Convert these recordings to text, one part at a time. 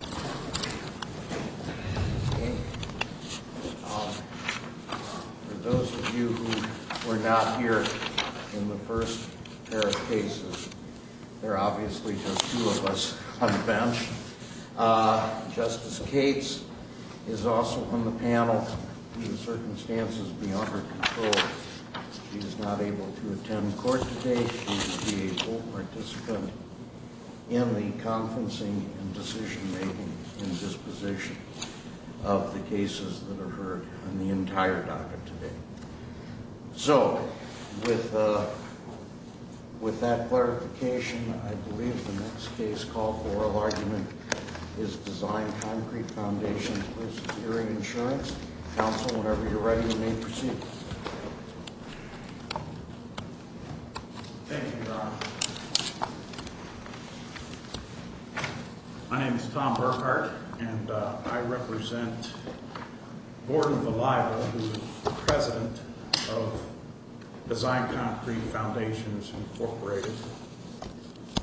For those of you who were not here in the first pair of cases, there are obviously just two of us on the bench. Justice Cates is also on the panel due to circumstances beyond her control. She is not able to attend court today. She will be a full participant in the conferencing and decision-making and disposition of the cases that are heard on the entire docket today. So, with that clarification, I believe the next case called for oral argument is Design Concrete Foundations v. Erie Insurance. Counsel, whenever you're ready, you may proceed. My name is Tom Burkhardt, and I represent Gordon Valiable, who is the president of Design Concrete Foundations, Inc.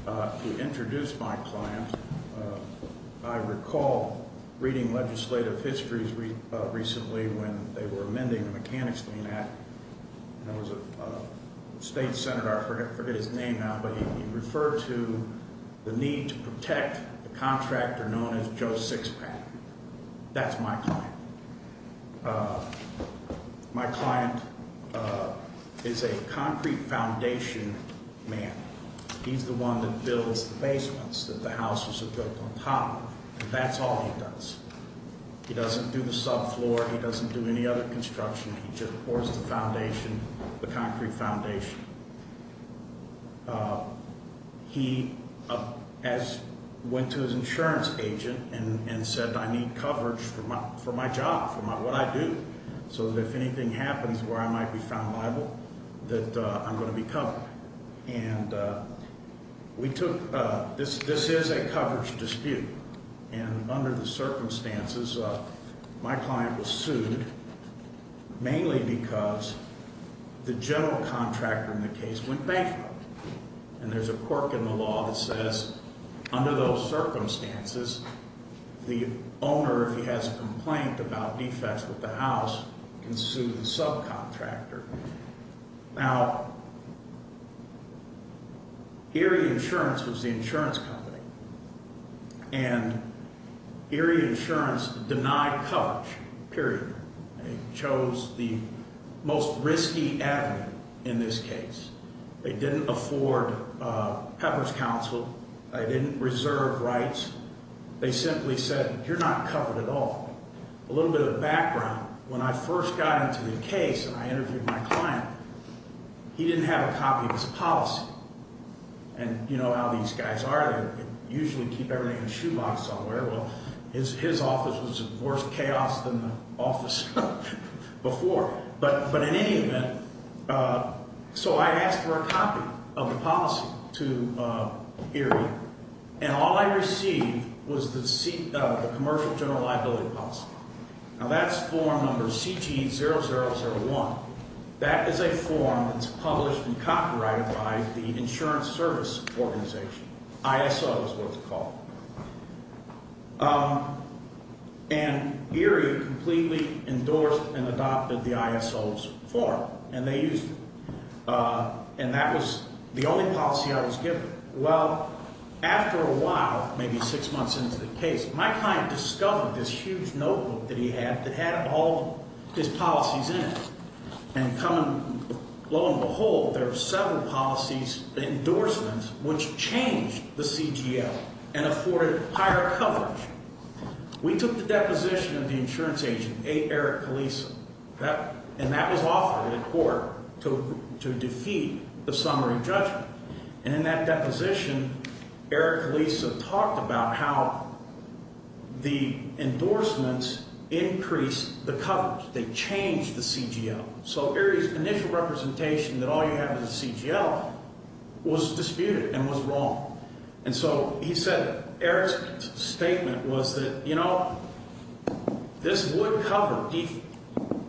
To introduce my client, I recall reading legislative histories recently when they were amending the Mechanics Clean Act. There was a state senator, I forget his name now, but he referred to the need to protect a contractor known as Joe Sixpack. That's my client. My client is a concrete foundation man. He's the one that builds the basements that the houses are built on top of, and that's all he does. He doesn't do the subfloor. He doesn't do any other construction. He just pours the foundation, the concrete foundation. He went to his insurance agent and said, I need coverage for my job, for what I do, so that if anything happens where I might be found liable, that I'm going to be covered. This is a coverage dispute, and under the circumstances, my client was sued mainly because the general contractor in the case went bankrupt. And there's a quirk in the law that says under those circumstances, the owner, if he has a complaint about defects with the house, can sue the subcontractor. Now, Erie Insurance was the insurance company, and Erie Insurance denied coverage, period. They chose the most risky avenue in this case. They didn't afford pepper's counsel. They didn't reserve rights. They simply said, you're not covered at all. A little bit of background. When I first got into the case and I interviewed my client, he didn't have a copy of his policy. And you know how these guys are. They usually keep everything in a shoebox somewhere. Well, his office was in worse chaos than the office before. But in any event, so I asked for a copy of the policy to Erie. And all I received was the Commercial General Liability Policy. Now, that's form number CT0001. That is a form that's published and copyrighted by the Insurance Service Organization, ISO is what it's called. And Erie completely endorsed and adopted the ISO's form, and they used it. And that was the only policy I was given. Well, after a while, maybe six months into the case, my client discovered this huge notebook that he had that had all his policies in it. And come and lo and behold, there were several policies, endorsements, which changed the CGL and afforded higher coverage. We took the deposition of the insurance agent, A. Eric Kalisa. And that was offered in court to defeat the summary judgment. And in that deposition, Eric Kalisa talked about how the endorsements increased the coverage. They changed the CGL. So Erie's initial representation that all you have is a CGL was disputed and was wrong. And so he said Eric's statement was that, you know, this would cover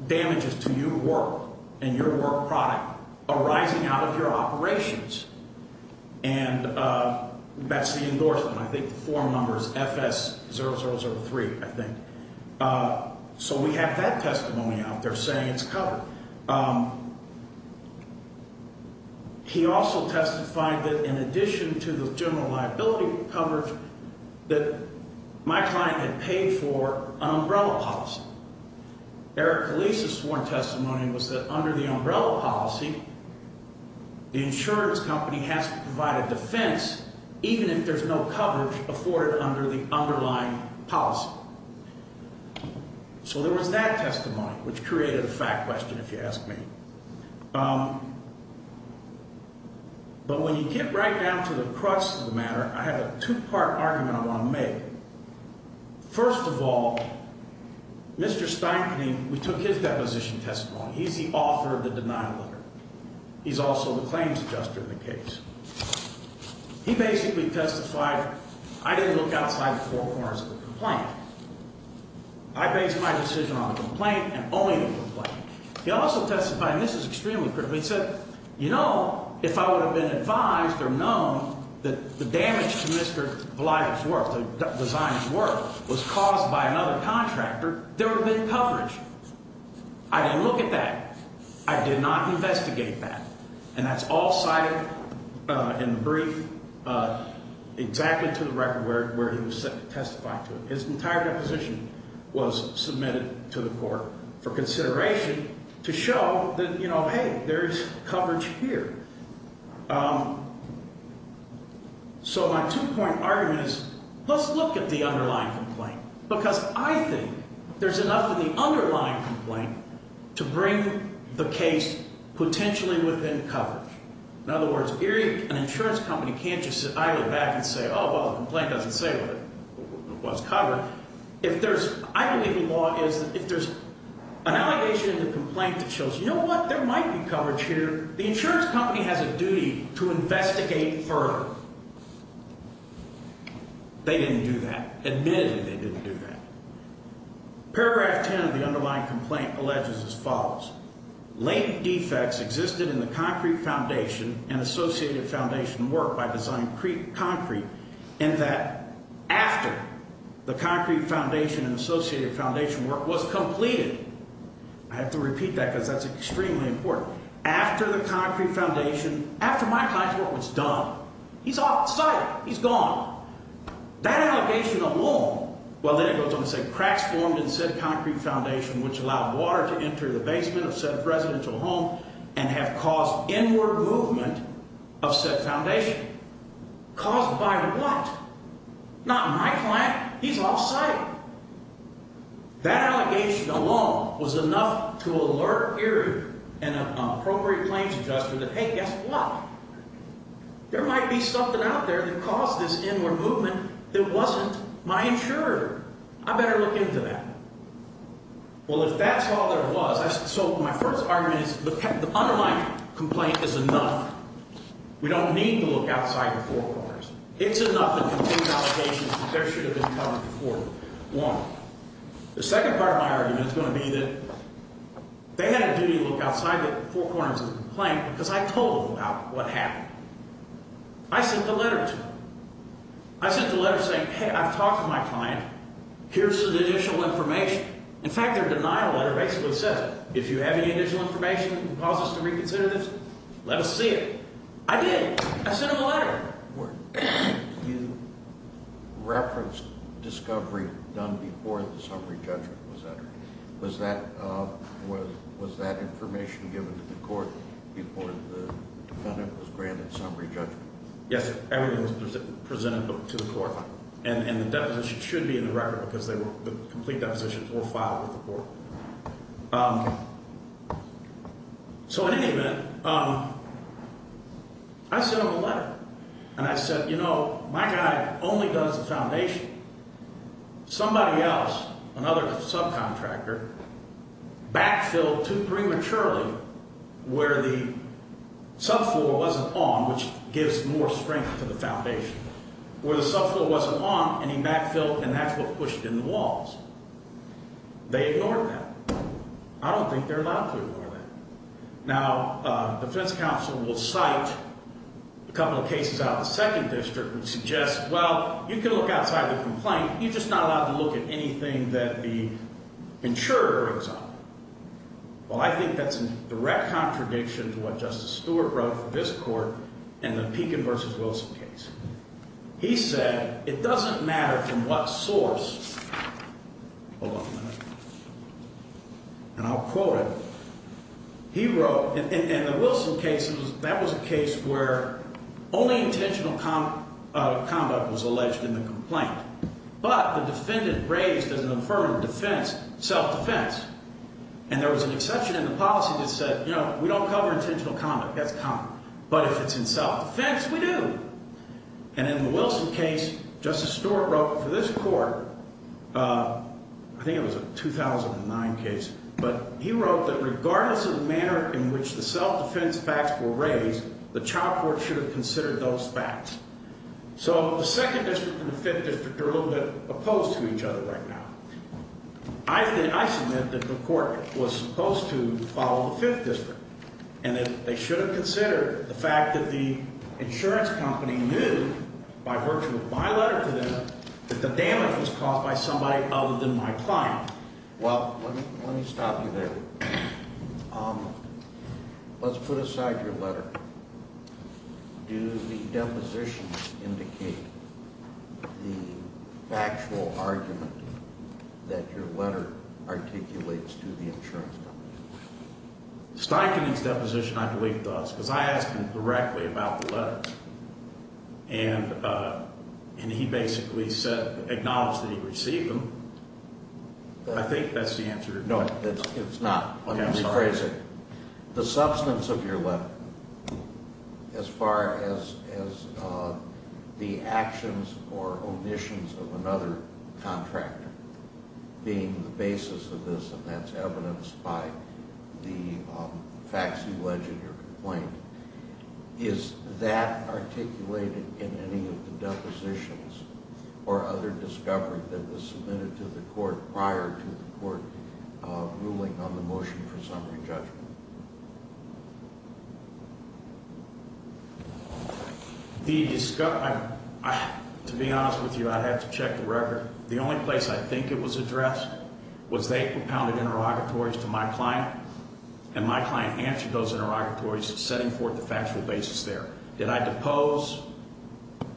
damages to your work and your work product arising out of your operations. And that's the endorsement. I think the form number is FS0003, I think. So we have that testimony out there saying it's covered. He also testified that in addition to the general liability coverage, that my client had paid for an umbrella policy. Eric Kalisa's sworn testimony was that under the umbrella policy, the insurance company has to provide a defense even if there's no coverage afforded under the underlying policy. So there was that testimony, which created a fact question, if you ask me. But when you get right down to the crux of the matter, I have a two-part argument I want to make. First of all, Mr. Steinken, we took his deposition testimony. He's the author of the denial letter. He's also the claims adjuster in the case. He basically testified, I didn't look outside the four corners of the complaint. I based my decision on the complaint and only the complaint. He also testified, and this is extremely critical, he said, you know, if I would have been advised or known that the damage to Mr. Blythe's work, the designer's work, was caused by another contractor, there would have been coverage. I didn't look at that. I did not investigate that. And that's all cited in the brief exactly to the record where he was testifying to it. His entire deposition was submitted to the court for consideration to show that, you know, hey, there's coverage here. So my two-point argument is let's look at the underlying complaint, because I think there's enough in the underlying complaint to bring the case potentially within coverage. In other words, an insurance company can't just sit idly back and say, oh, well, the complaint doesn't say what's covered. I believe the law is that if there's an allegation in the complaint that shows, you know what, there might be coverage here, the insurance company has a duty to investigate further. They didn't do that. Admittedly, they didn't do that. Paragraph 10 of the underlying complaint alleges as follows. I have to repeat that because that's extremely important. After the concrete foundation, after my client's work was done, he's off the site. He's gone. That allegation alone, well, then it goes on to say cracks formed in said concrete foundation which allowed water to enter the basement of said residential home and have caused inward movement of said foundation. Caused by what? Not my client. He's off site. That allegation alone was enough to alert here an appropriate claims adjuster that, hey, guess what? There might be something out there that caused this inward movement that wasn't my insurer. I better look into that. Well, if that's all there was, so my first argument is the underlying complaint is enough. We don't need to look outside the four corners. It's enough to contain allegations that there should have been coverage before. One. The second part of my argument is going to be that they had a duty to look outside the four corners of the complaint because I told them about what happened. I sent a letter to them. I sent a letter saying, hey, I've talked to my client. Here's some additional information. In fact, their denial letter basically says if you have any additional information that can cause us to reconsider this, let us see it. I did. I sent them a letter. You referenced discovery done before the summary judgment was entered. Was that information given to the court before the defendant was granted summary judgment? Yes. Everything was presented to the court, and the deposition should be in the record because the complete depositions were filed with the court. So in any event, I sent them a letter. And I said, you know, my guy only does the foundation. Somebody else, another subcontractor, backfilled too prematurely where the subfloor wasn't on, which gives more strength to the foundation. Where the subfloor wasn't on, and he backfilled, and that's what pushed in the walls. They ignored that. I don't think they're allowed to ignore that. Now, defense counsel will cite a couple of cases out of the second district that suggest, well, you can look outside the complaint. You're just not allowed to look at anything that the insurer examines. Well, I think that's a direct contradiction to what Justice Stewart wrote for this court in the Pekin v. Wilson case. He said it doesn't matter from what source. Hold on a minute. And I'll quote it. He wrote, in the Wilson case, that was a case where only intentional conduct was alleged in the complaint. But the defendant raised as an affirmative defense, self-defense. And there was an exception in the policy that said, you know, we don't cover intentional conduct. That's common. But if it's in self-defense, we do. And in the Wilson case, Justice Stewart wrote for this court, I think it was a 2009 case, but he wrote that regardless of the manner in which the self-defense facts were raised, the child court should have considered those facts. So the second district and the fifth district are a little bit opposed to each other right now. I submit that the court was supposed to follow the fifth district. And that they should have considered the fact that the insurance company knew, by virtue of my letter to them, that the damage was caused by somebody other than my client. Well, let me stop you there. Let's put aside your letter. Do the depositions indicate the factual argument that your letter articulates to the insurance company? Steichening's deposition, I believe, does. Because I asked him directly about the letters. And he basically said, acknowledged that he received them. I think that's the answer. No, it's not. Let me rephrase it. The substance of your letter, as far as the actions or omissions of another contractor being the basis of this, and that's evidenced by the facts you alleged or complained, is that articulated in any of the depositions or other discovery that was submitted to the court prior to the court ruling on the motion for summary judgment? To be honest with you, I'd have to check the record. The only place I think it was addressed was they propounded interrogatories to my client. And my client answered those interrogatories, setting forth the factual basis there. Did I depose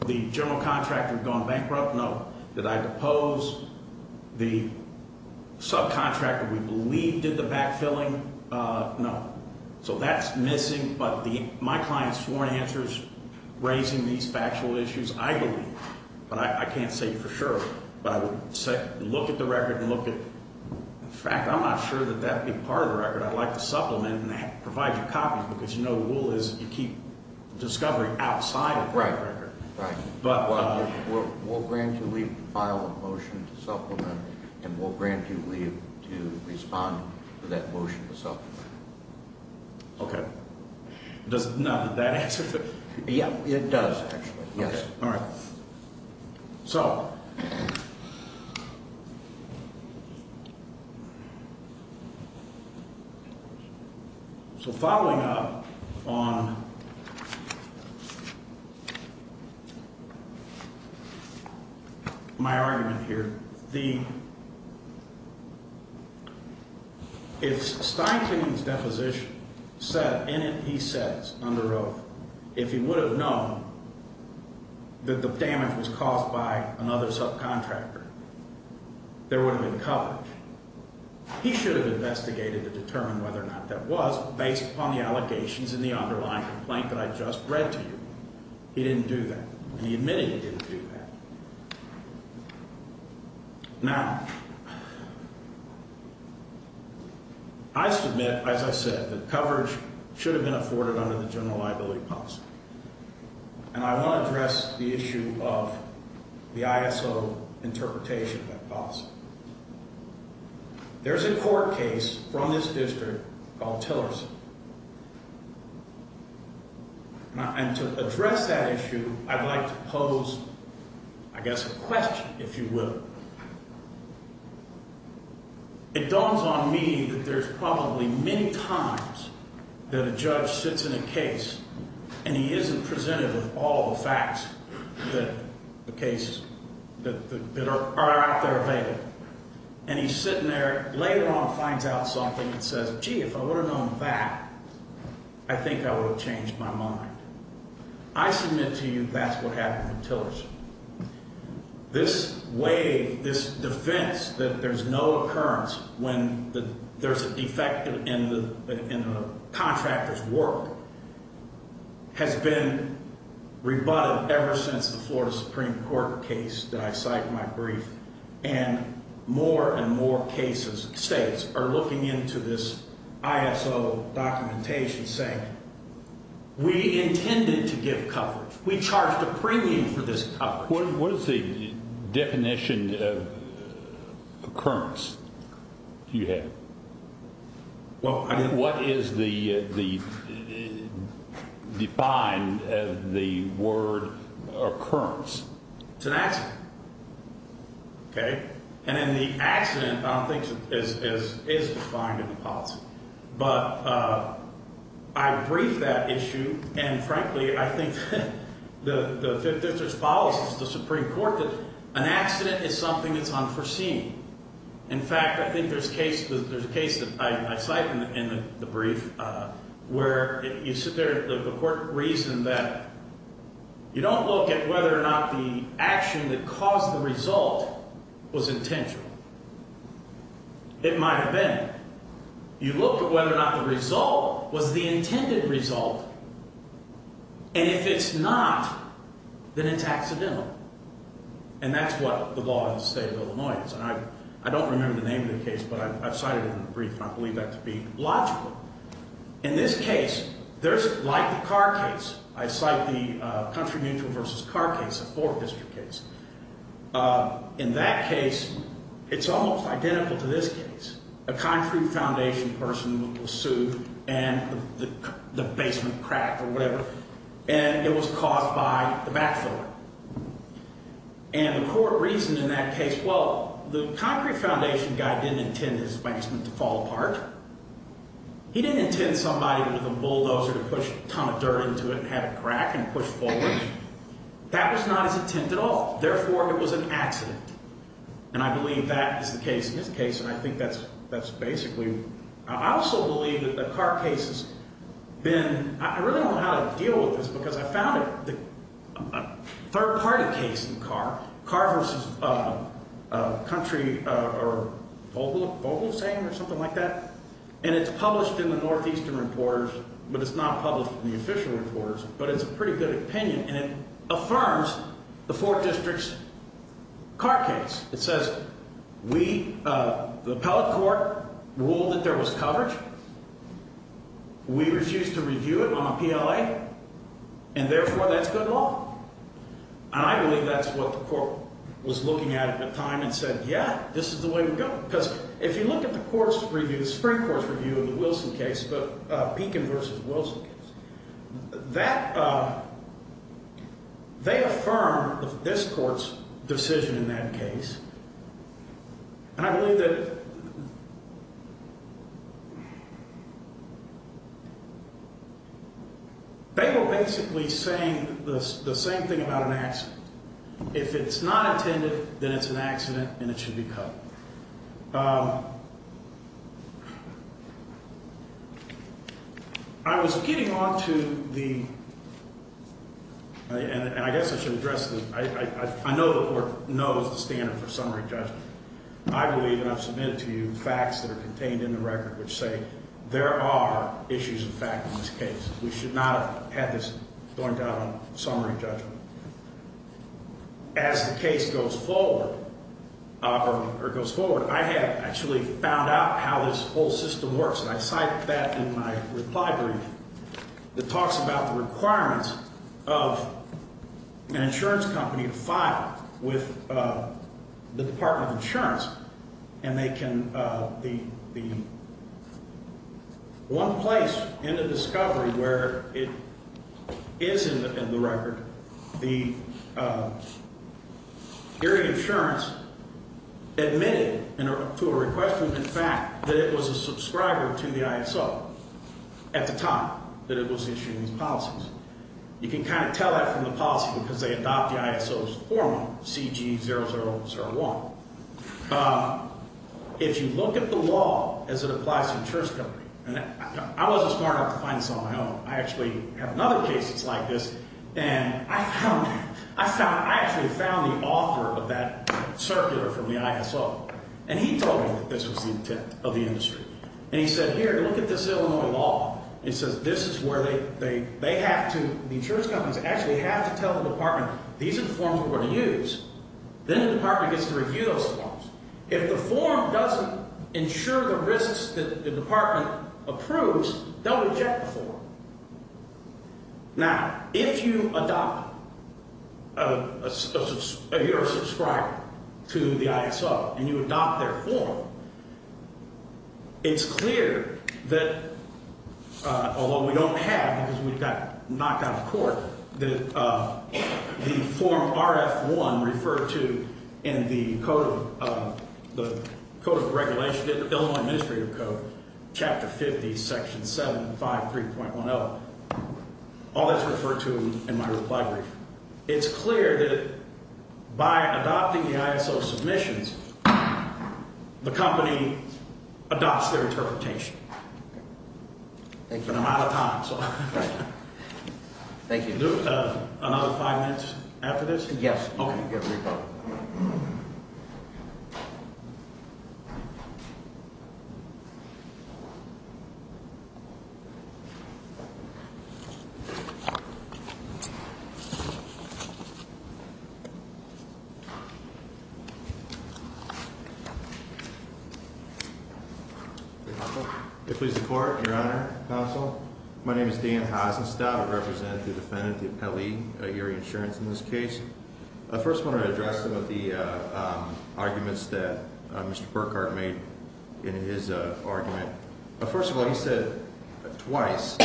the general contractor gone bankrupt? No. Did I depose the subcontractor we believe did the backfilling? No. So that's missing. But my client's sworn answers raising these factual issues, I believe. But I can't say for sure. But I would look at the record and look at the fact. I'm not sure that that'd be part of the record. I'd like to supplement and provide you copies, because you know the rule is you keep discovery outside of the record. Right. We'll grant you leave to file a motion to supplement, and we'll grant you leave to respond to that motion to supplement. Okay. Does that answer the question? Yeah, it does, actually. Okay. All right. So. So following up on my argument here. The. If Steinlein's deposition said, and he says under oath, if he would have known that the damage was caused by another subcontractor, there would have been coverage. He should have investigated to determine whether or not that was based upon the allegations in the underlying complaint that I just read to you. He didn't do that. And he admitted he didn't do that. Now. I submit, as I said, that coverage should have been afforded under the general liability policy. And I want to address the issue of the ISO interpretation of that policy. There's a court case from this district called Tillerson. And to address that issue, I'd like to pose, I guess, a question, if you will. It dawns on me that there's probably many times that a judge sits in a case and he isn't presented with all the facts that the cases that are out there available. And he's sitting there later on, finds out something that says, gee, if I would have known that, I think I would have changed my mind. I submit to you that's what happened in Tillerson. This way, this defense that there's no occurrence when there's a defect in the contractor's work has been rebutted ever since the Florida Supreme Court case that I cite in my brief. And more and more cases, states are looking into this ISO documentation saying we intended to give coverage. We charged a premium for this coverage. What is the definition of occurrence you have? Well, I mean. What is the defined as the word occurrence? It's an accident. Okay? And then the accident, I don't think, is defined in the policy. But I briefed that issue, and frankly, I think the Fifth District's policy to the Supreme Court that an accident is something that's unforeseen. In fact, I think there's a case that I cite in the brief where you sit there, the court reasoned that you don't look at whether or not the action that caused the result was intentional. It might have been. You look at whether or not the result was the intended result, and if it's not, then it's accidental. And that's what the law in the state of Illinois is. I don't remember the name of the case, but I've cited it in the brief, and I believe that to be logical. In this case, there's like the Carr case. I cite the Country Mutual versus Carr case, a Fourth District case. In that case, it's almost identical to this case. A country foundation person was sued, and the basement cracked or whatever, and it was caused by the backfilling. And the court reasoned in that case, well, the concrete foundation guy didn't intend his basement to fall apart. He didn't intend somebody with a bulldozer to push a ton of dirt into it and have it crack and push forward. That was not his intent at all. Therefore, it was an accident, and I believe that is the case in this case, and I think that's basically. I also believe that the Carr case has been. I really don't know how to deal with this because I found it. A third-party case in Carr, Carr versus Country or Vogel saying or something like that, and it's published in the Northeastern reporters, but it's not published in the official reporters, but it's a pretty good opinion, and it affirms the Fourth District's Carr case. It says we, the appellate court, ruled that there was coverage. We refused to review it on a PLA, and therefore, that's good law. And I believe that's what the court was looking at at the time and said, yeah, this is the way to go. Because if you look at the court's review, the Supreme Court's review of the Wilson case, Pekin versus Wilson case, they affirm this court's decision in that case, and I believe that they were basically saying the same thing about an accident. If it's not intended, then it's an accident, and it should be cut. I was getting on to the – and I guess I should address the – I know the court knows the standard for summary judgment. I believe, and I've submitted to you, facts that are contained in the record which say there are issues of fact in this case. We should not have had this going down on summary judgment. As the case goes forward, or goes forward, I have actually found out how this whole system works, and I cite that in my reply brief. It talks about the requirements of an insurance company to file with the Department of Insurance, and they can – the – one place in the discovery where it is in the record, the area insurance admitted to a request room, in fact, that it was a subscriber to the ISO at the time that it was issuing these policies. You can kind of tell that from the policy because they adopt the ISO's formula, CG0001. If you look at the law as it applies to insurance companies, and I wasn't smart enough to find this on my own. I actually have another case that's like this, and I found – I actually found the author of that circular from the ISO, and he told me that this was the intent of the industry, and he said, here, look at this Illinois law. It says this is where they have to – the insurance companies actually have to tell the department, these are the forms we're going to use. Then the department gets to review those forms. If the form doesn't ensure the risks that the department approves, don't eject the form. Now, if you adopt – if you're a subscriber to the ISO and you adopt their form, it's clear that, although we don't have because we got knocked out of court, that the form RF1 referred to in the Code of Regulations, the Illinois Administrative Code, Chapter 50, Section 753.10, all that's referred to in my reply brief. It's clear that by adopting the ISO submissions, the company adopts their interpretation. Thank you. But I'm out of time, so. Thank you. Another five minutes after this? Yes. Okay. If we support, Your Honor, Counsel, my name is Dan Hasenstab. I represent the defendant, the appellee, Erie Insurance, in this case. First, I want to address some of the arguments that Mr. Burkhart made in his argument. First of all, he said twice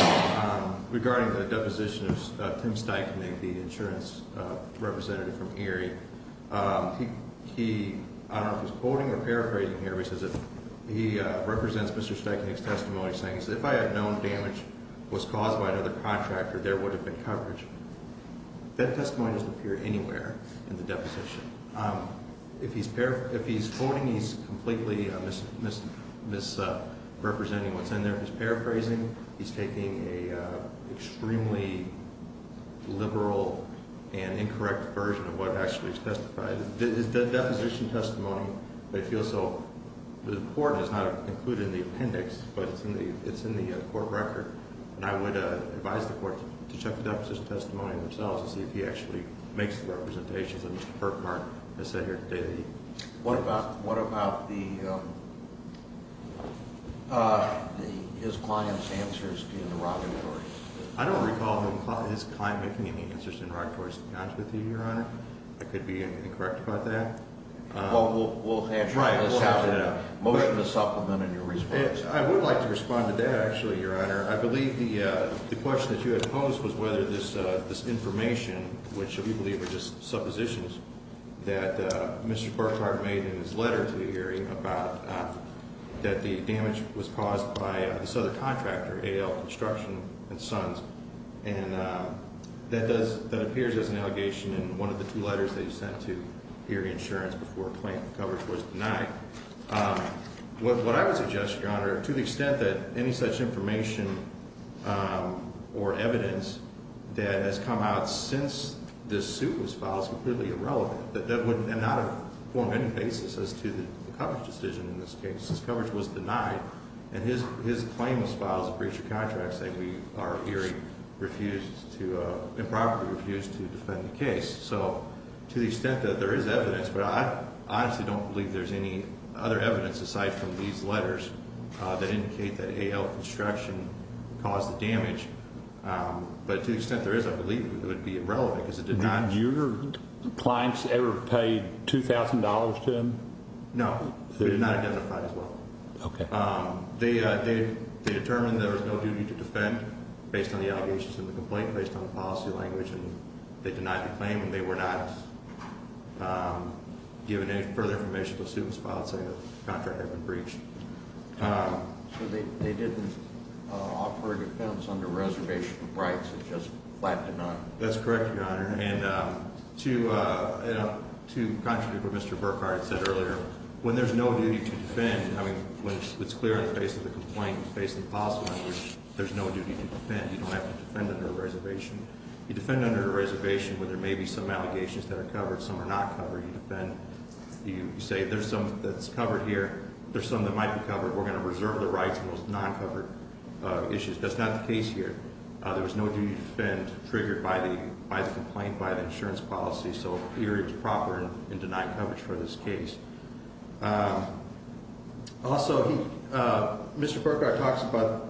regarding the deposition of Tim Steiknik, the insurance representative from Erie. He – I don't know if he's quoting or paraphrasing here, but he says that he represents Mr. Steiknik's testimony saying, if I had known damage was caused by another contractor, there would have been coverage. That testimony doesn't appear anywhere in the deposition. If he's quoting, he's completely misrepresenting what's in there. If he's paraphrasing, he's taking an extremely liberal and incorrect version of what actually is testified. The deposition testimony, I feel so, the court does not include it in the appendix, but it's in the court record. And I would advise the court to check the deposition testimony themselves and see if he actually makes the representations that Mr. Burkhart has said here today. What about the – his client's answers in the Rocketory? I don't recall his client making any answers in the Rocketory's cons with you, Your Honor. I could be incorrect about that. Well, we'll have to – Right, we'll have to – Motion to supplement in your response. I would like to respond to that, actually, Your Honor. I believe the question that you had posed was whether this information, which we believe are just suppositions, that Mr. Burkhart made in his letter to the hearing about – that the damage was caused by this other contractor, A.L. Construction and Sons. And that does – that appears as an allegation in one of the two letters that he sent to hearing insurance before client coverage was denied. What I would suggest, Your Honor, to the extent that any such information or evidence that has come out since this suit was filed is completely irrelevant, and not a formative basis as to the coverage decision in this case. Since coverage was denied, and his claim was filed as a breach of contract, saying we are hearing refused to – improperly refused to defend the case. So to the extent that there is evidence, but I honestly don't believe there's any other evidence aside from these letters that indicate that A.L. Construction caused the damage. But to the extent there is, I believe it would be irrelevant because it did not – Were your clients ever paid $2,000 to him? No. They were not identified as well. Okay. They determined there was no duty to defend based on the allegations in the complaint, based on the policy language. They denied the claim, and they were not given any further information until the suit was filed, saying the contractor had been breached. So they didn't offer a defense under reservation rights. It just flattened out. That's correct, Your Honor. And to contradict what Mr. Burkhardt said earlier, when there's no duty to defend – I mean, when it's clear in the face of the complaint, based on the policy language, there's no duty to defend. You don't have to defend under a reservation. You defend under a reservation where there may be some allegations that are covered. Some are not covered. You defend. You say there's some that's covered here. There's some that might be covered. We're going to reserve the rights on those non-covered issues. That's not the case here. There was no duty to defend triggered by the complaint, by the insurance policy. So here is proper and denied coverage for this case. Also, Mr. Burkhardt talks about,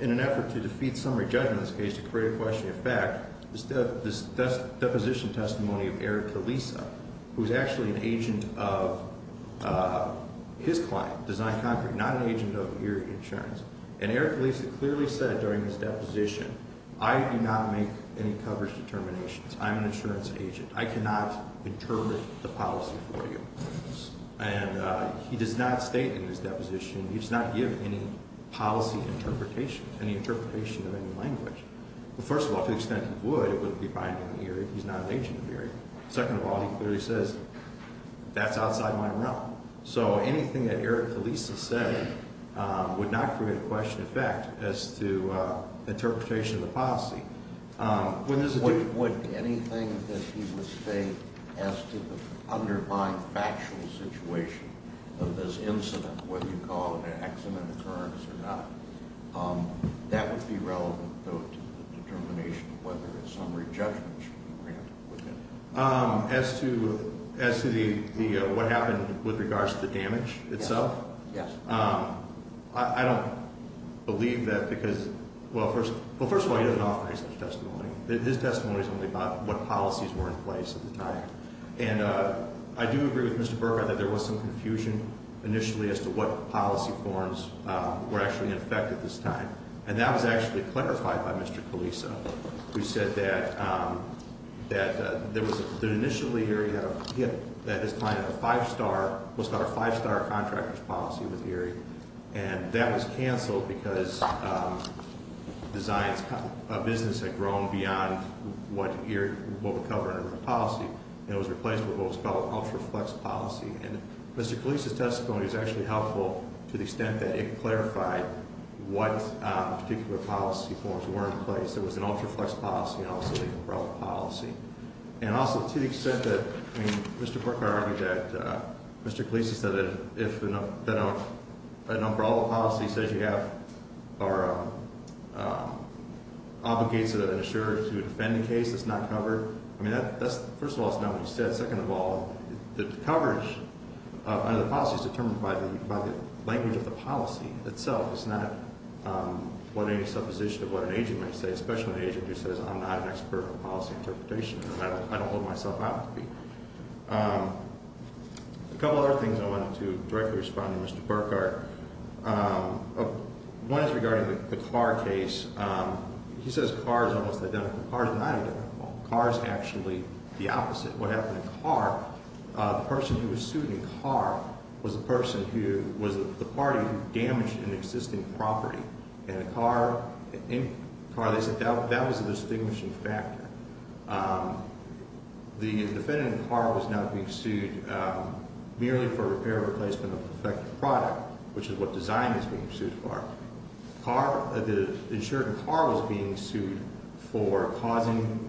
in an effort to defeat summary judgment in this case, to create a question of fact, this deposition testimony of Eric Kalisa, who's actually an agent of his client, Design Concrete, not an agent of your insurance. And Eric Kalisa clearly said during his deposition, I do not make any coverage determinations. I'm an insurance agent. I cannot interpret the policy for you. And he does not state in his deposition, he does not give any policy interpretation, any interpretation of any language. Well, first of all, to the extent he would, it wouldn't be binding here if he's not an agent of your insurance. Second of all, he clearly says that's outside my realm. So anything that Eric Kalisa said would not create a question of fact as to interpretation of the policy. Would anything that he would state as to the underlying factual situation of this incident, whether you call it an accident occurrence or not, that would be relevant, though, to the determination of whether a summary judgment should be granted with him. As to what happened with regards to the damage itself? Yes. I don't believe that because, well, first of all, he doesn't offer any such testimony. His testimony is only about what policies were in place at the time. And I do agree with Mr. Burkhardt that there was some confusion initially as to what policy forms were actually in effect at this time. And that was actually clarified by Mr. Kalisa, who said that initially Eric had a hit, that his client had a five-star, what's called a five-star contractor's policy with Eric. And that was canceled because a business had grown beyond what would cover a policy. And it was replaced with what was called an ultra-flex policy. And Mr. Kalisa's testimony was actually helpful to the extent that it clarified what particular policy forms were in place. It was an ultra-flex policy and also a legal-browl policy. And also to the extent that, I mean, Mr. Burkhardt argued that Mr. Kalisa said that if an umbrella policy says you have or obligates an insurer to defend a case that's not covered, I mean, first of all, that's not what he said. Second of all, the coverage under the policy is determined by the language of the policy itself. It's not what any supposition of what an agent might say, especially an agent who says I'm not an expert in policy interpretation. I don't hold myself out to be. A couple other things I wanted to directly respond to Mr. Burkhardt. One is regarding the Carr case. He says Carr is almost identical. Carr is not identical. Carr is actually the opposite. What happened in Carr, the person who was sued in Carr was the party who damaged an existing property. And in Carr they said that was a distinguishing factor. The defendant in Carr was not being sued merely for repair or replacement of the defective product, which is what design is being sued for. The insurer in Carr was being sued for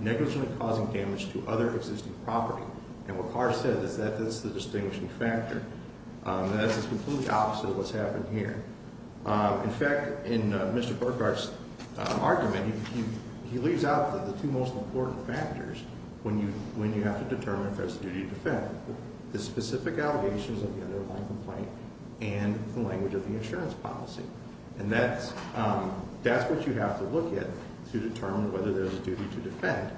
negligently causing damage to other existing property. And what Carr said is that that's the distinguishing factor. That is completely opposite of what's happened here. In fact, in Mr. Burkhardt's argument, he leaves out the two most important factors when you have to determine if that's the duty to defend. The specific allegations of the underlying complaint and the language of the insurance policy. And that's what you have to look at to determine whether there's a duty to defend.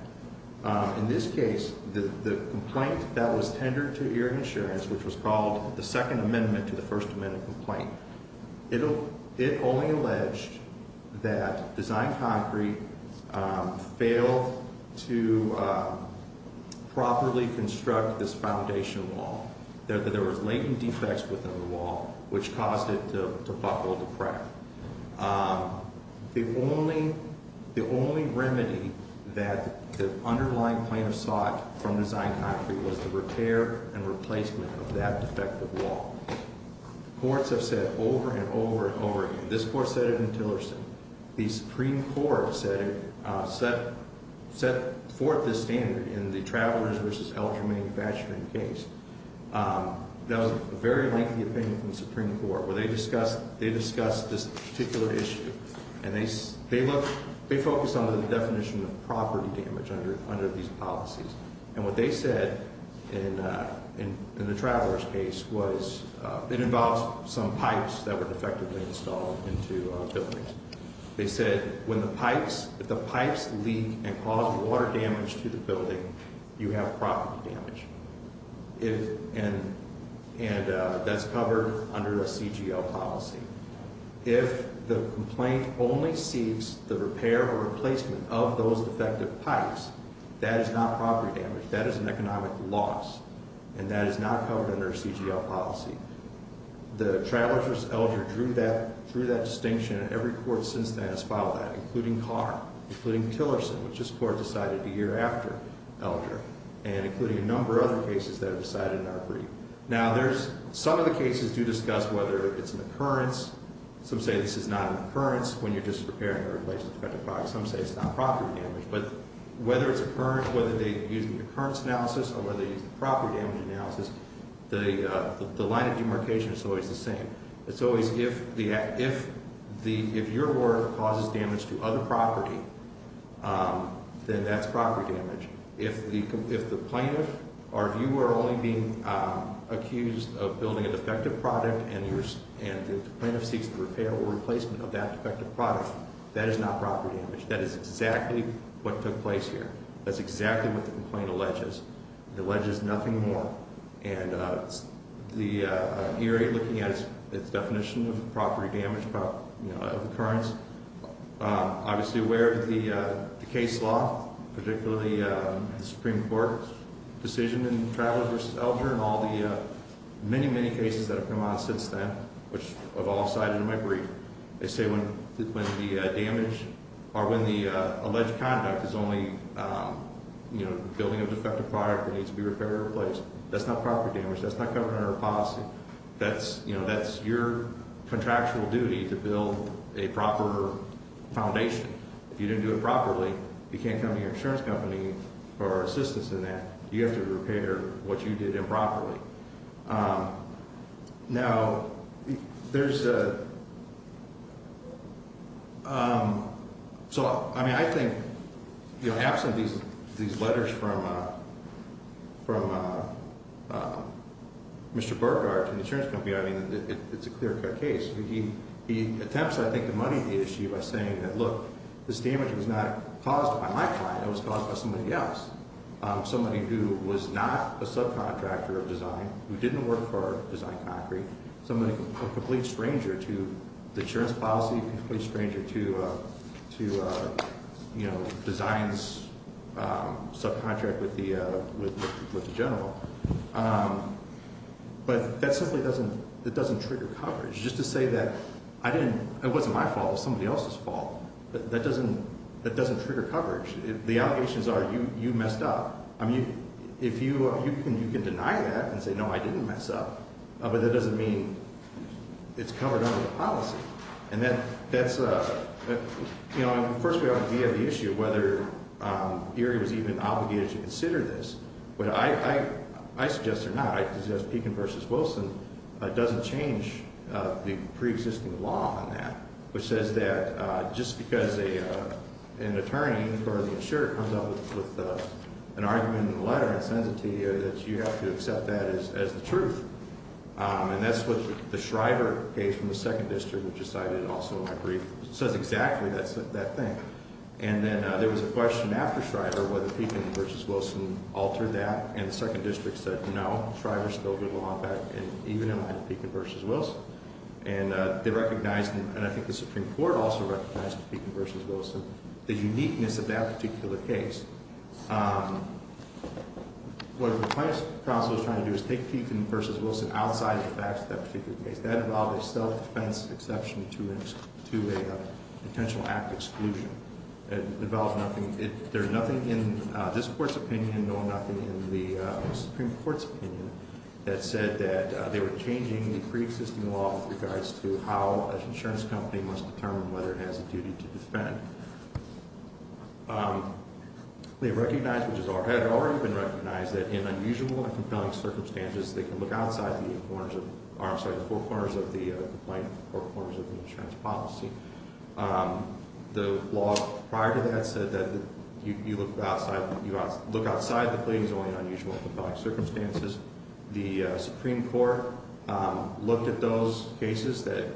In this case, the complaint that was tendered to Erie Insurance, which was called the Second Amendment to the First Amendment complaint. It only alleged that Design Concrete failed to properly construct this foundation wall. There was latent defects within the wall, which caused it to buckle to crack. The only remedy that the underlying plaintiff sought from Design Concrete was the repair and replacement of that defective wall. Courts have said over and over and over again. This court said it in Tillerson. The Supreme Court set forth this standard in the Travelers v. Elgin Manufacturing case. That was a very lengthy opinion from the Supreme Court, where they discussed this particular issue. And they focused on the definition of property damage under these policies. And what they said in the Travelers case was it involves some pipes that were defectively installed into buildings. They said if the pipes leak and cause water damage to the building, you have property damage. And that's covered under a CGL policy. If the complaint only seeks the repair or replacement of those defective pipes, that is not property damage. That is an economic loss. And that is not covered under a CGL policy. The Travelers v. Elgin drew that distinction. And every court since then has filed that, including Carr, including Tillerson, which this court decided a year after Elgin, and including a number of other cases that have decided in our brief. Now, some of the cases do discuss whether it's an occurrence. Some say this is not an occurrence when you're just repairing or replacing defective pipes. Some say it's not property damage. But whether it's an occurrence, whether they use the occurrence analysis or whether they use the property damage analysis, the line of demarcation is always the same. It's always if your work causes damage to other property, then that's property damage. If the plaintiff or if you were only being accused of building a defective product and the plaintiff seeks the repair or replacement of that defective product, that is not property damage. That is exactly what took place here. That's exactly what the complaint alleges. It alleges nothing more. And the area, looking at its definition of property damage, of occurrence, obviously aware of the case law, particularly the Supreme Court decision in Traveller v. Elgin and all the many, many cases that have come out since then, which I've all cited in my brief. They say when the damage or when the alleged conduct is only building a defective product that needs to be repaired or replaced, that's not property damage. That's not government or policy. That's your contractual duty to build a proper foundation. If you didn't do it properly, you can't come to your insurance company for assistance in that. You have to repair what you did improperly. Now, there's a – so, I mean, I think, you know, absent these letters from Mr. Burgard to the insurance company, I mean, it's a clear-cut case. He attempts, I think, to money the issue by saying that, look, this damage was not caused by my client. It was caused by somebody else, somebody who was not a subcontractor of design, who didn't work for Design Concrete, a complete stranger to the insurance policy, a complete stranger to, you know, design's subcontract with the general. But that simply doesn't – that doesn't trigger coverage. Just to say that I didn't – it wasn't my fault. It was somebody else's fault. That doesn't trigger coverage. The allegations are you messed up. I mean, if you – you can deny that and say, no, I didn't mess up. But that doesn't mean it's covered under the policy. And that's – you know, and, of course, we have the issue of whether Erie was even obligated to consider this. But I suggest they're not. I suggest Pekin v. Wilson doesn't change the preexisting law on that, which says that just because an attorney for the insurer comes up with an argument in the letter and sends it to you, that you have to accept that as the truth. And that's what the Shriver case from the 2nd District, which is cited also in my brief, says exactly that thing. And then there was a question after Shriver whether Pekin v. Wilson altered that, and the 2nd District said no, Shriver's still good law on that, and even in line with Pekin v. Wilson. And they recognized, and I think the Supreme Court also recognized Pekin v. Wilson, the uniqueness of that particular case. What the plaintiff's counsel is trying to do is take Pekin v. Wilson outside of the facts of that particular case. That involved a self-defense exception to a potential act of exclusion. It involved nothing – there's nothing in this Court's opinion, nor nothing in the Supreme Court's opinion that said that they were changing the preexisting law with regards to how an insurance company must determine whether it has a duty to defend. They recognized, which had already been recognized, that in unusual and compelling circumstances, they could look outside the four corners of the insurance policy. The law prior to that said that you look outside the claim is only in unusual and compelling circumstances. The Supreme Court looked at those cases that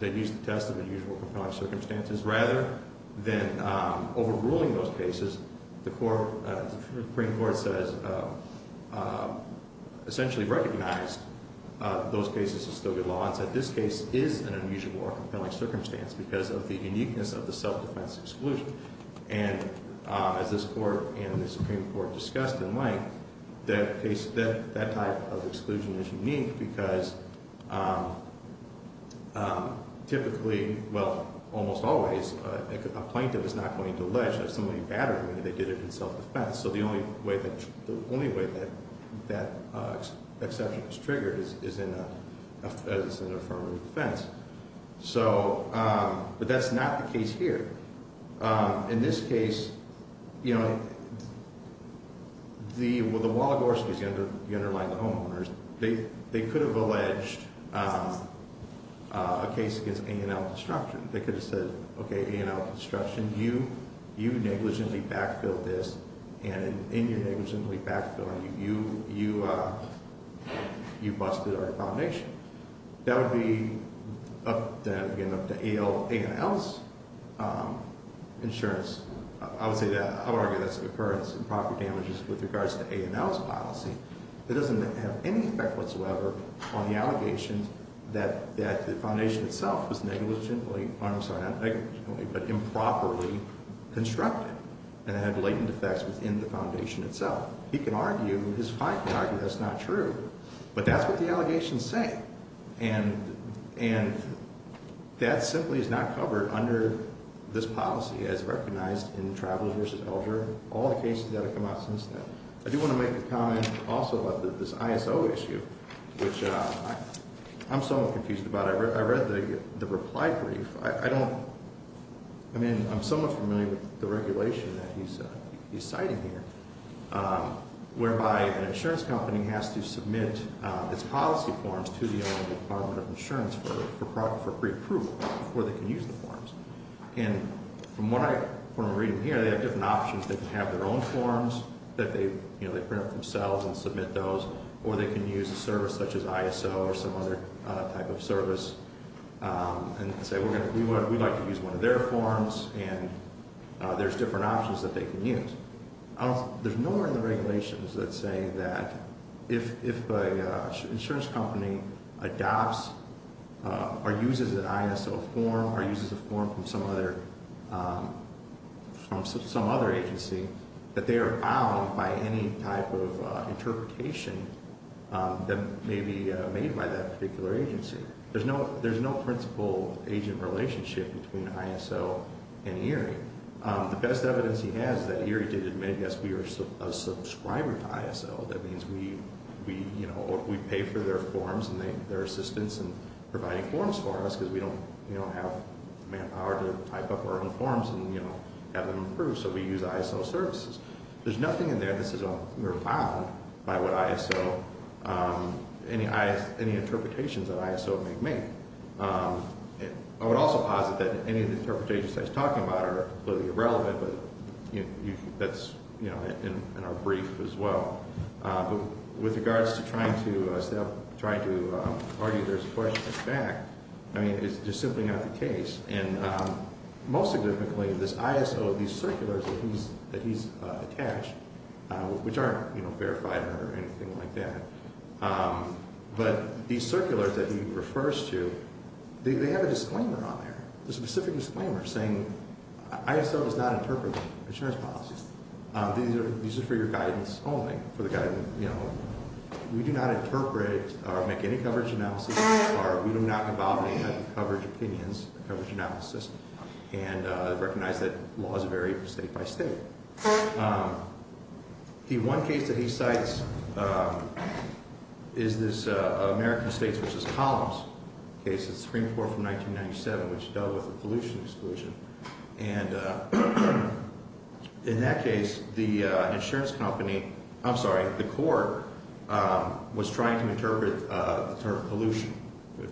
used the test of unusual and compelling circumstances. Rather than overruling those cases, the Supreme Court says – essentially recognized those cases as still good law and said this case is an unusual or compelling circumstance because of the uniqueness of the self-defense exclusion. As this Court and the Supreme Court discussed in length, that type of exclusion is unique because typically – well, almost always – a plaintiff is not going to allege that somebody battered him, and they did it in self-defense. So the only way that that exception is triggered is in an affirmative defense. But that's not the case here. In this case, the Wallagorskys – you underline the homeowners – they could have alleged a case against A&L Construction. They could have said, okay, A&L Construction, you negligently backfilled this, and in your negligently backfilling, you busted our foundation. That would be, again, up to A&L's insurance. I would argue that's an occurrence of improper damages with regards to A&L's policy. It doesn't have any effect whatsoever on the allegations that the foundation itself was negligently – I'm sorry, not negligently, but improperly constructed and had latent effects within the foundation itself. He can argue – his client can argue that's not true, but that's what the allegations say. And that simply is not covered under this policy as recognized in Travelers v. Elder, all the cases that have come out since then. I do want to make a comment also about this ISO issue, which I'm somewhat confused about. I read the reply brief. I don't – I mean, I'm somewhat familiar with the regulation that he's citing here, whereby an insurance company has to submit its policy forms to the Department of Insurance for preapproval before they can use the forms. And from what I'm reading here, they have different options. They can have their own forms that they print up themselves and submit those, or they can use a service such as ISO or some other type of service and say, we'd like to use one of their forms, and there's different options that they can use. There's nowhere in the regulations that say that if an insurance company adopts or uses an ISO form or uses a form from some other agency, that they are bound by any type of interpretation that may be made by that particular agency. There's no principal-agent relationship between ISO and ERIE. The best evidence he has is that ERIE did admit, yes, we are a subscriber to ISO. That means we pay for their forms and their assistance in providing forms for us because we don't have the manpower to type up our own forms and have them approved. So we use ISO services. There's nothing in there that says we're bound by any interpretations that ISO may make. I would also posit that any of the interpretations that he's talking about are completely irrelevant, but that's in our brief as well. With regards to trying to argue there's a question at the back, I mean, it's just simply not the case. And most significantly, this ISO, these circulars that he's attached, which aren't verified or anything like that, but these circulars that he refers to, they have a disclaimer on there, a specific disclaimer saying ISO does not interpret insurance policies. These are for your guidance only, for the guidance, you know. We do not interpret or make any coverage analysis, or we do not involve any type of coverage opinions, coverage analysis, and recognize that laws vary from state by state. The one case that he cites is this American States v. Collins case. It's Supreme Court from 1997, which dealt with the pollution exclusion. And in that case, the insurance company, I'm sorry, the court was trying to interpret the term pollution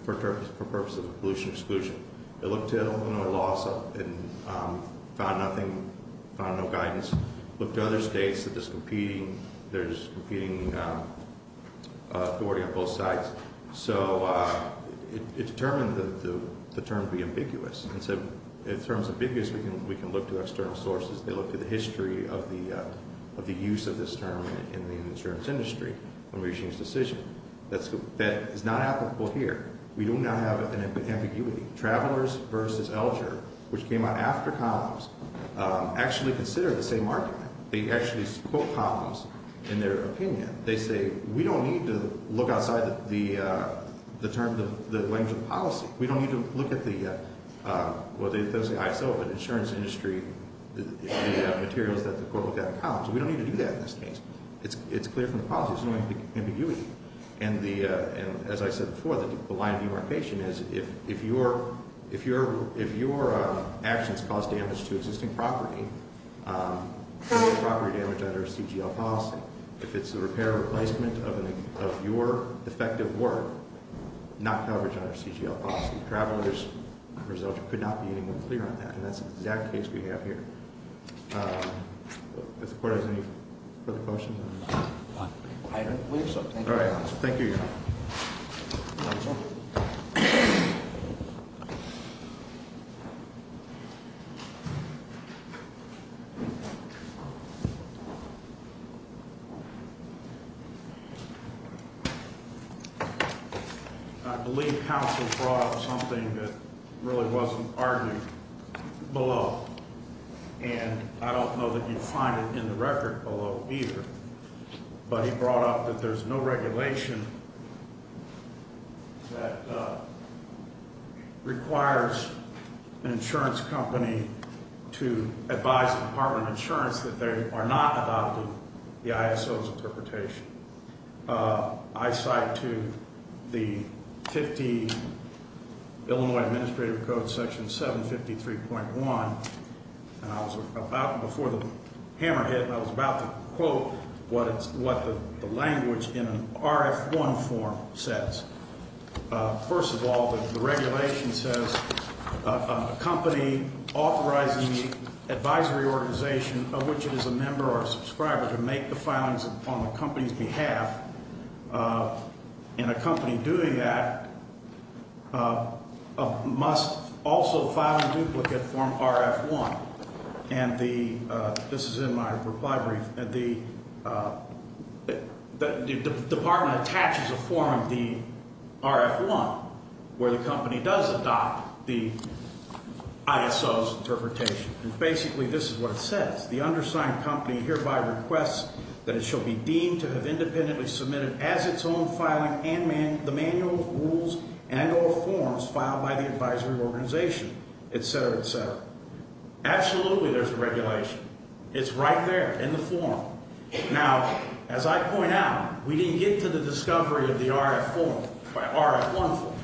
for purposes of pollution exclusion. It looked at all the laws and found nothing, found no guidance. Looked at other states that there's competing authority on both sides. And so in terms of big news, we can look to external sources. They looked at the history of the use of this term in the insurance industry when we reached this decision. That is not applicable here. We do not have an ambiguity. Travelers v. Elger, which came out after Collins, actually consider the same argument. They actually quote Collins in their opinion. They say, we don't need to look outside the terms of the language of policy. We don't need to look at the insurance industry, the materials that the court looked at in Collins. We don't need to do that in this case. It's clear from the policy. There's no ambiguity. And as I said before, the line of numeration is if your actions cause damage to existing property, property damage under a CGL policy, if it's a repair or replacement of your effective work, not coverage under a CGL policy. Travelers v. Elger could not be any more clear on that. And that's the exact case we have here. Does the court have any further questions? I don't believe so. All right. Thank you, Your Honor. Counsel. I believe counsel brought up something that really wasn't argued below. And I don't know that you'd find it in the record below either. But he brought up that there's no regulation that requires an insurance company to advise the Department of Insurance that they are not adopting the ISO's interpretation. I cite to the 50 Illinois Administrative Code, Section 753.1. And I was about, before the hammer hit, I was about to quote what the language in an RF1 form says. First of all, the regulation says a company authorizing the advisory organization of which it is a member or a subscriber to make the filings upon the company's behalf, and a company doing that must also file a duplicate form RF1. And this is in my reply brief. The department attaches a form of the RF1 where the company does adopt the ISO's interpretation. And basically this is what it says. The undersigned company hereby requests that it shall be deemed to have independently submitted as its own filing the manuals, rules, and or forms filed by the advisory organization, et cetera, et cetera. Absolutely there's a regulation. It's right there in the form. Now, as I point out, we didn't get to the discovery of the RF1 form.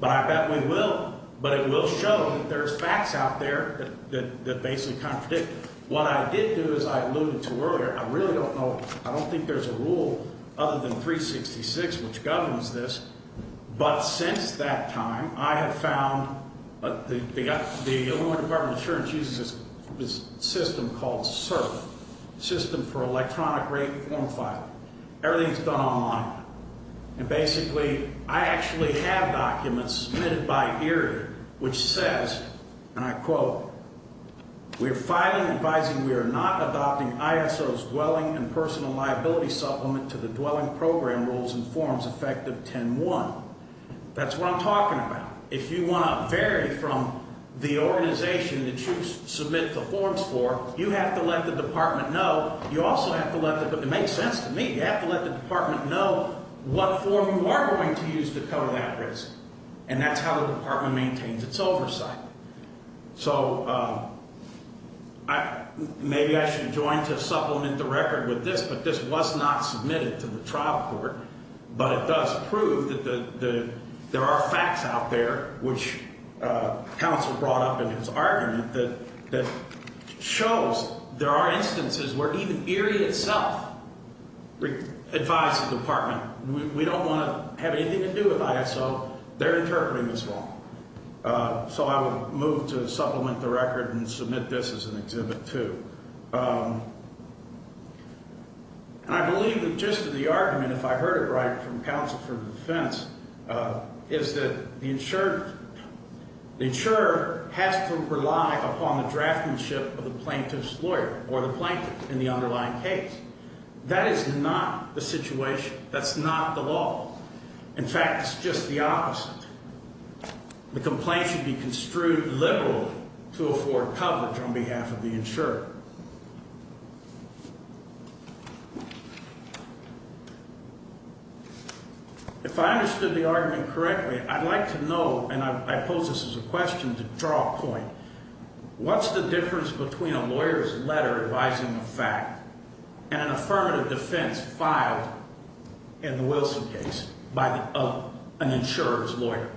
But I bet we will. But it will show that there's facts out there that basically contradict. What I did do is I alluded to earlier, I really don't know, I don't think there's a rule other than 366 which governs this. But since that time, I have found, the Illinois Department of Insurance uses this system called SERP, System for Electronic Rate Form Filing. Everything is done online. And basically, I actually have documents submitted by Erie which says, and I quote, we are filing advising we are not adopting ISO's dwelling and personal liability supplement to the dwelling program rules and forms effective 10-1. That's what I'm talking about. If you want to vary from the organization that you submit the forms for, you have to let the department know. You also have to let the, it makes sense to me. You have to let the department know what form you are going to use to cover that risk. And that's how the department maintains its oversight. So maybe I should join to supplement the record with this, but this was not submitted to the trial court. But it does prove that there are facts out there, which counsel brought up in his argument, that shows there are instances where even Erie itself advised the department, we don't want to have anything to do with ISO, they're interpreting this wrong. So I will move to supplement the record and submit this as an exhibit too. And I believe that just to the argument, if I heard it right from counsel for the defense, is that the insurer has to rely upon the draftsmanship of the plaintiff's lawyer or the plaintiff in the underlying case. That is not the situation. That's not the law. In fact, it's just the opposite. The complaint should be construed liberal to afford coverage on behalf of the insurer. If I understood the argument correctly, I'd like to know, and I pose this as a question to draw a point, what's the difference between a lawyer's letter advising a fact and an affirmative defense filed in the Wilson case by an insurer's lawyer?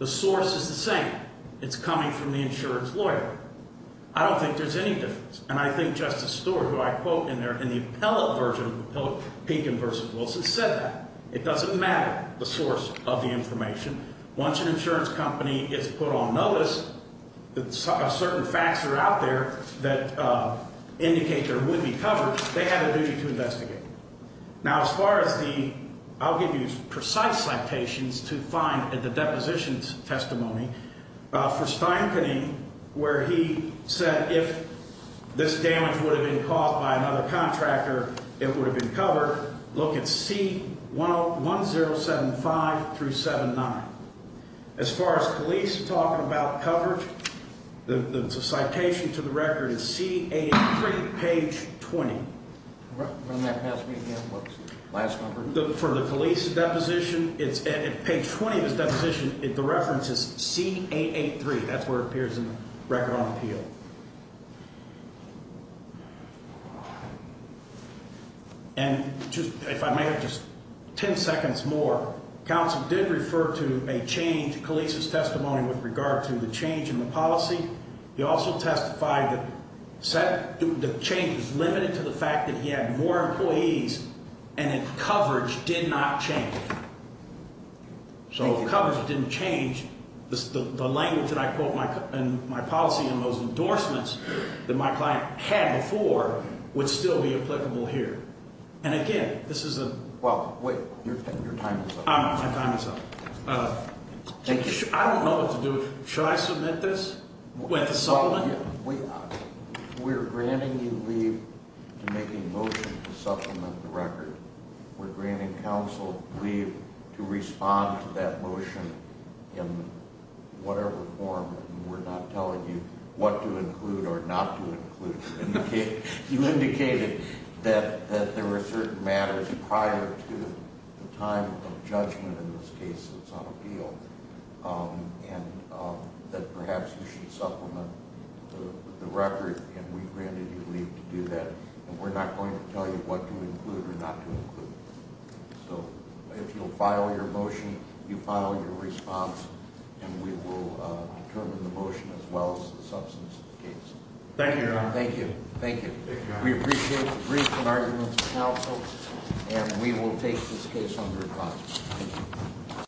The source is the same. It's coming from the insurer's lawyer. I don't think there's any difference. And I think Justice Stewart, who I quote in there, in the appellate version, Pinkham v. Wilson, said that. It doesn't matter the source of the information. Once an insurance company is put on notice, certain facts are out there that indicate there would be coverage. They have a duty to investigate. Now, as far as the – I'll give you precise citations to find at the depositions testimony. For Steinkening, where he said if this damage would have been caused by another contractor, it would have been covered, look at C1075-79. As far as police talking about coverage, the citation to the record is C883, page 20. Run that past me again. What's the last number? For the police deposition, it's – page 20 of his deposition, the reference is C883. That's where it appears in the record on appeal. And just – if I may have just 10 seconds more, counsel did refer to a change to Kalisa's testimony with regard to the change in the policy. He also testified that the change is limited to the fact that he had more employees and that coverage did not change. So coverage didn't change. The language that I quote in my policy and those endorsements that my client had before would still be applicable here. And again, this is a – Well, wait. Your time is up. My time is up. I don't know what to do. Should I submit this with a supplement? We're granting counsel leave to respond to that motion in whatever form. We're not telling you what to include or not to include. You indicated that there were certain matters prior to the time of judgment in this case that's on appeal and that perhaps you should supplement the record, and we granted you leave to do that. And we're not going to tell you what to include or not to include. So if you'll file your motion, you file your response, and we will determine the motion as well as the substance of the case. Thank you, Your Honor. Thank you. Thank you. Thank you, Your Honor. We appreciate the briefs and arguments of counsel, and we will take this case under consideration. Thank you.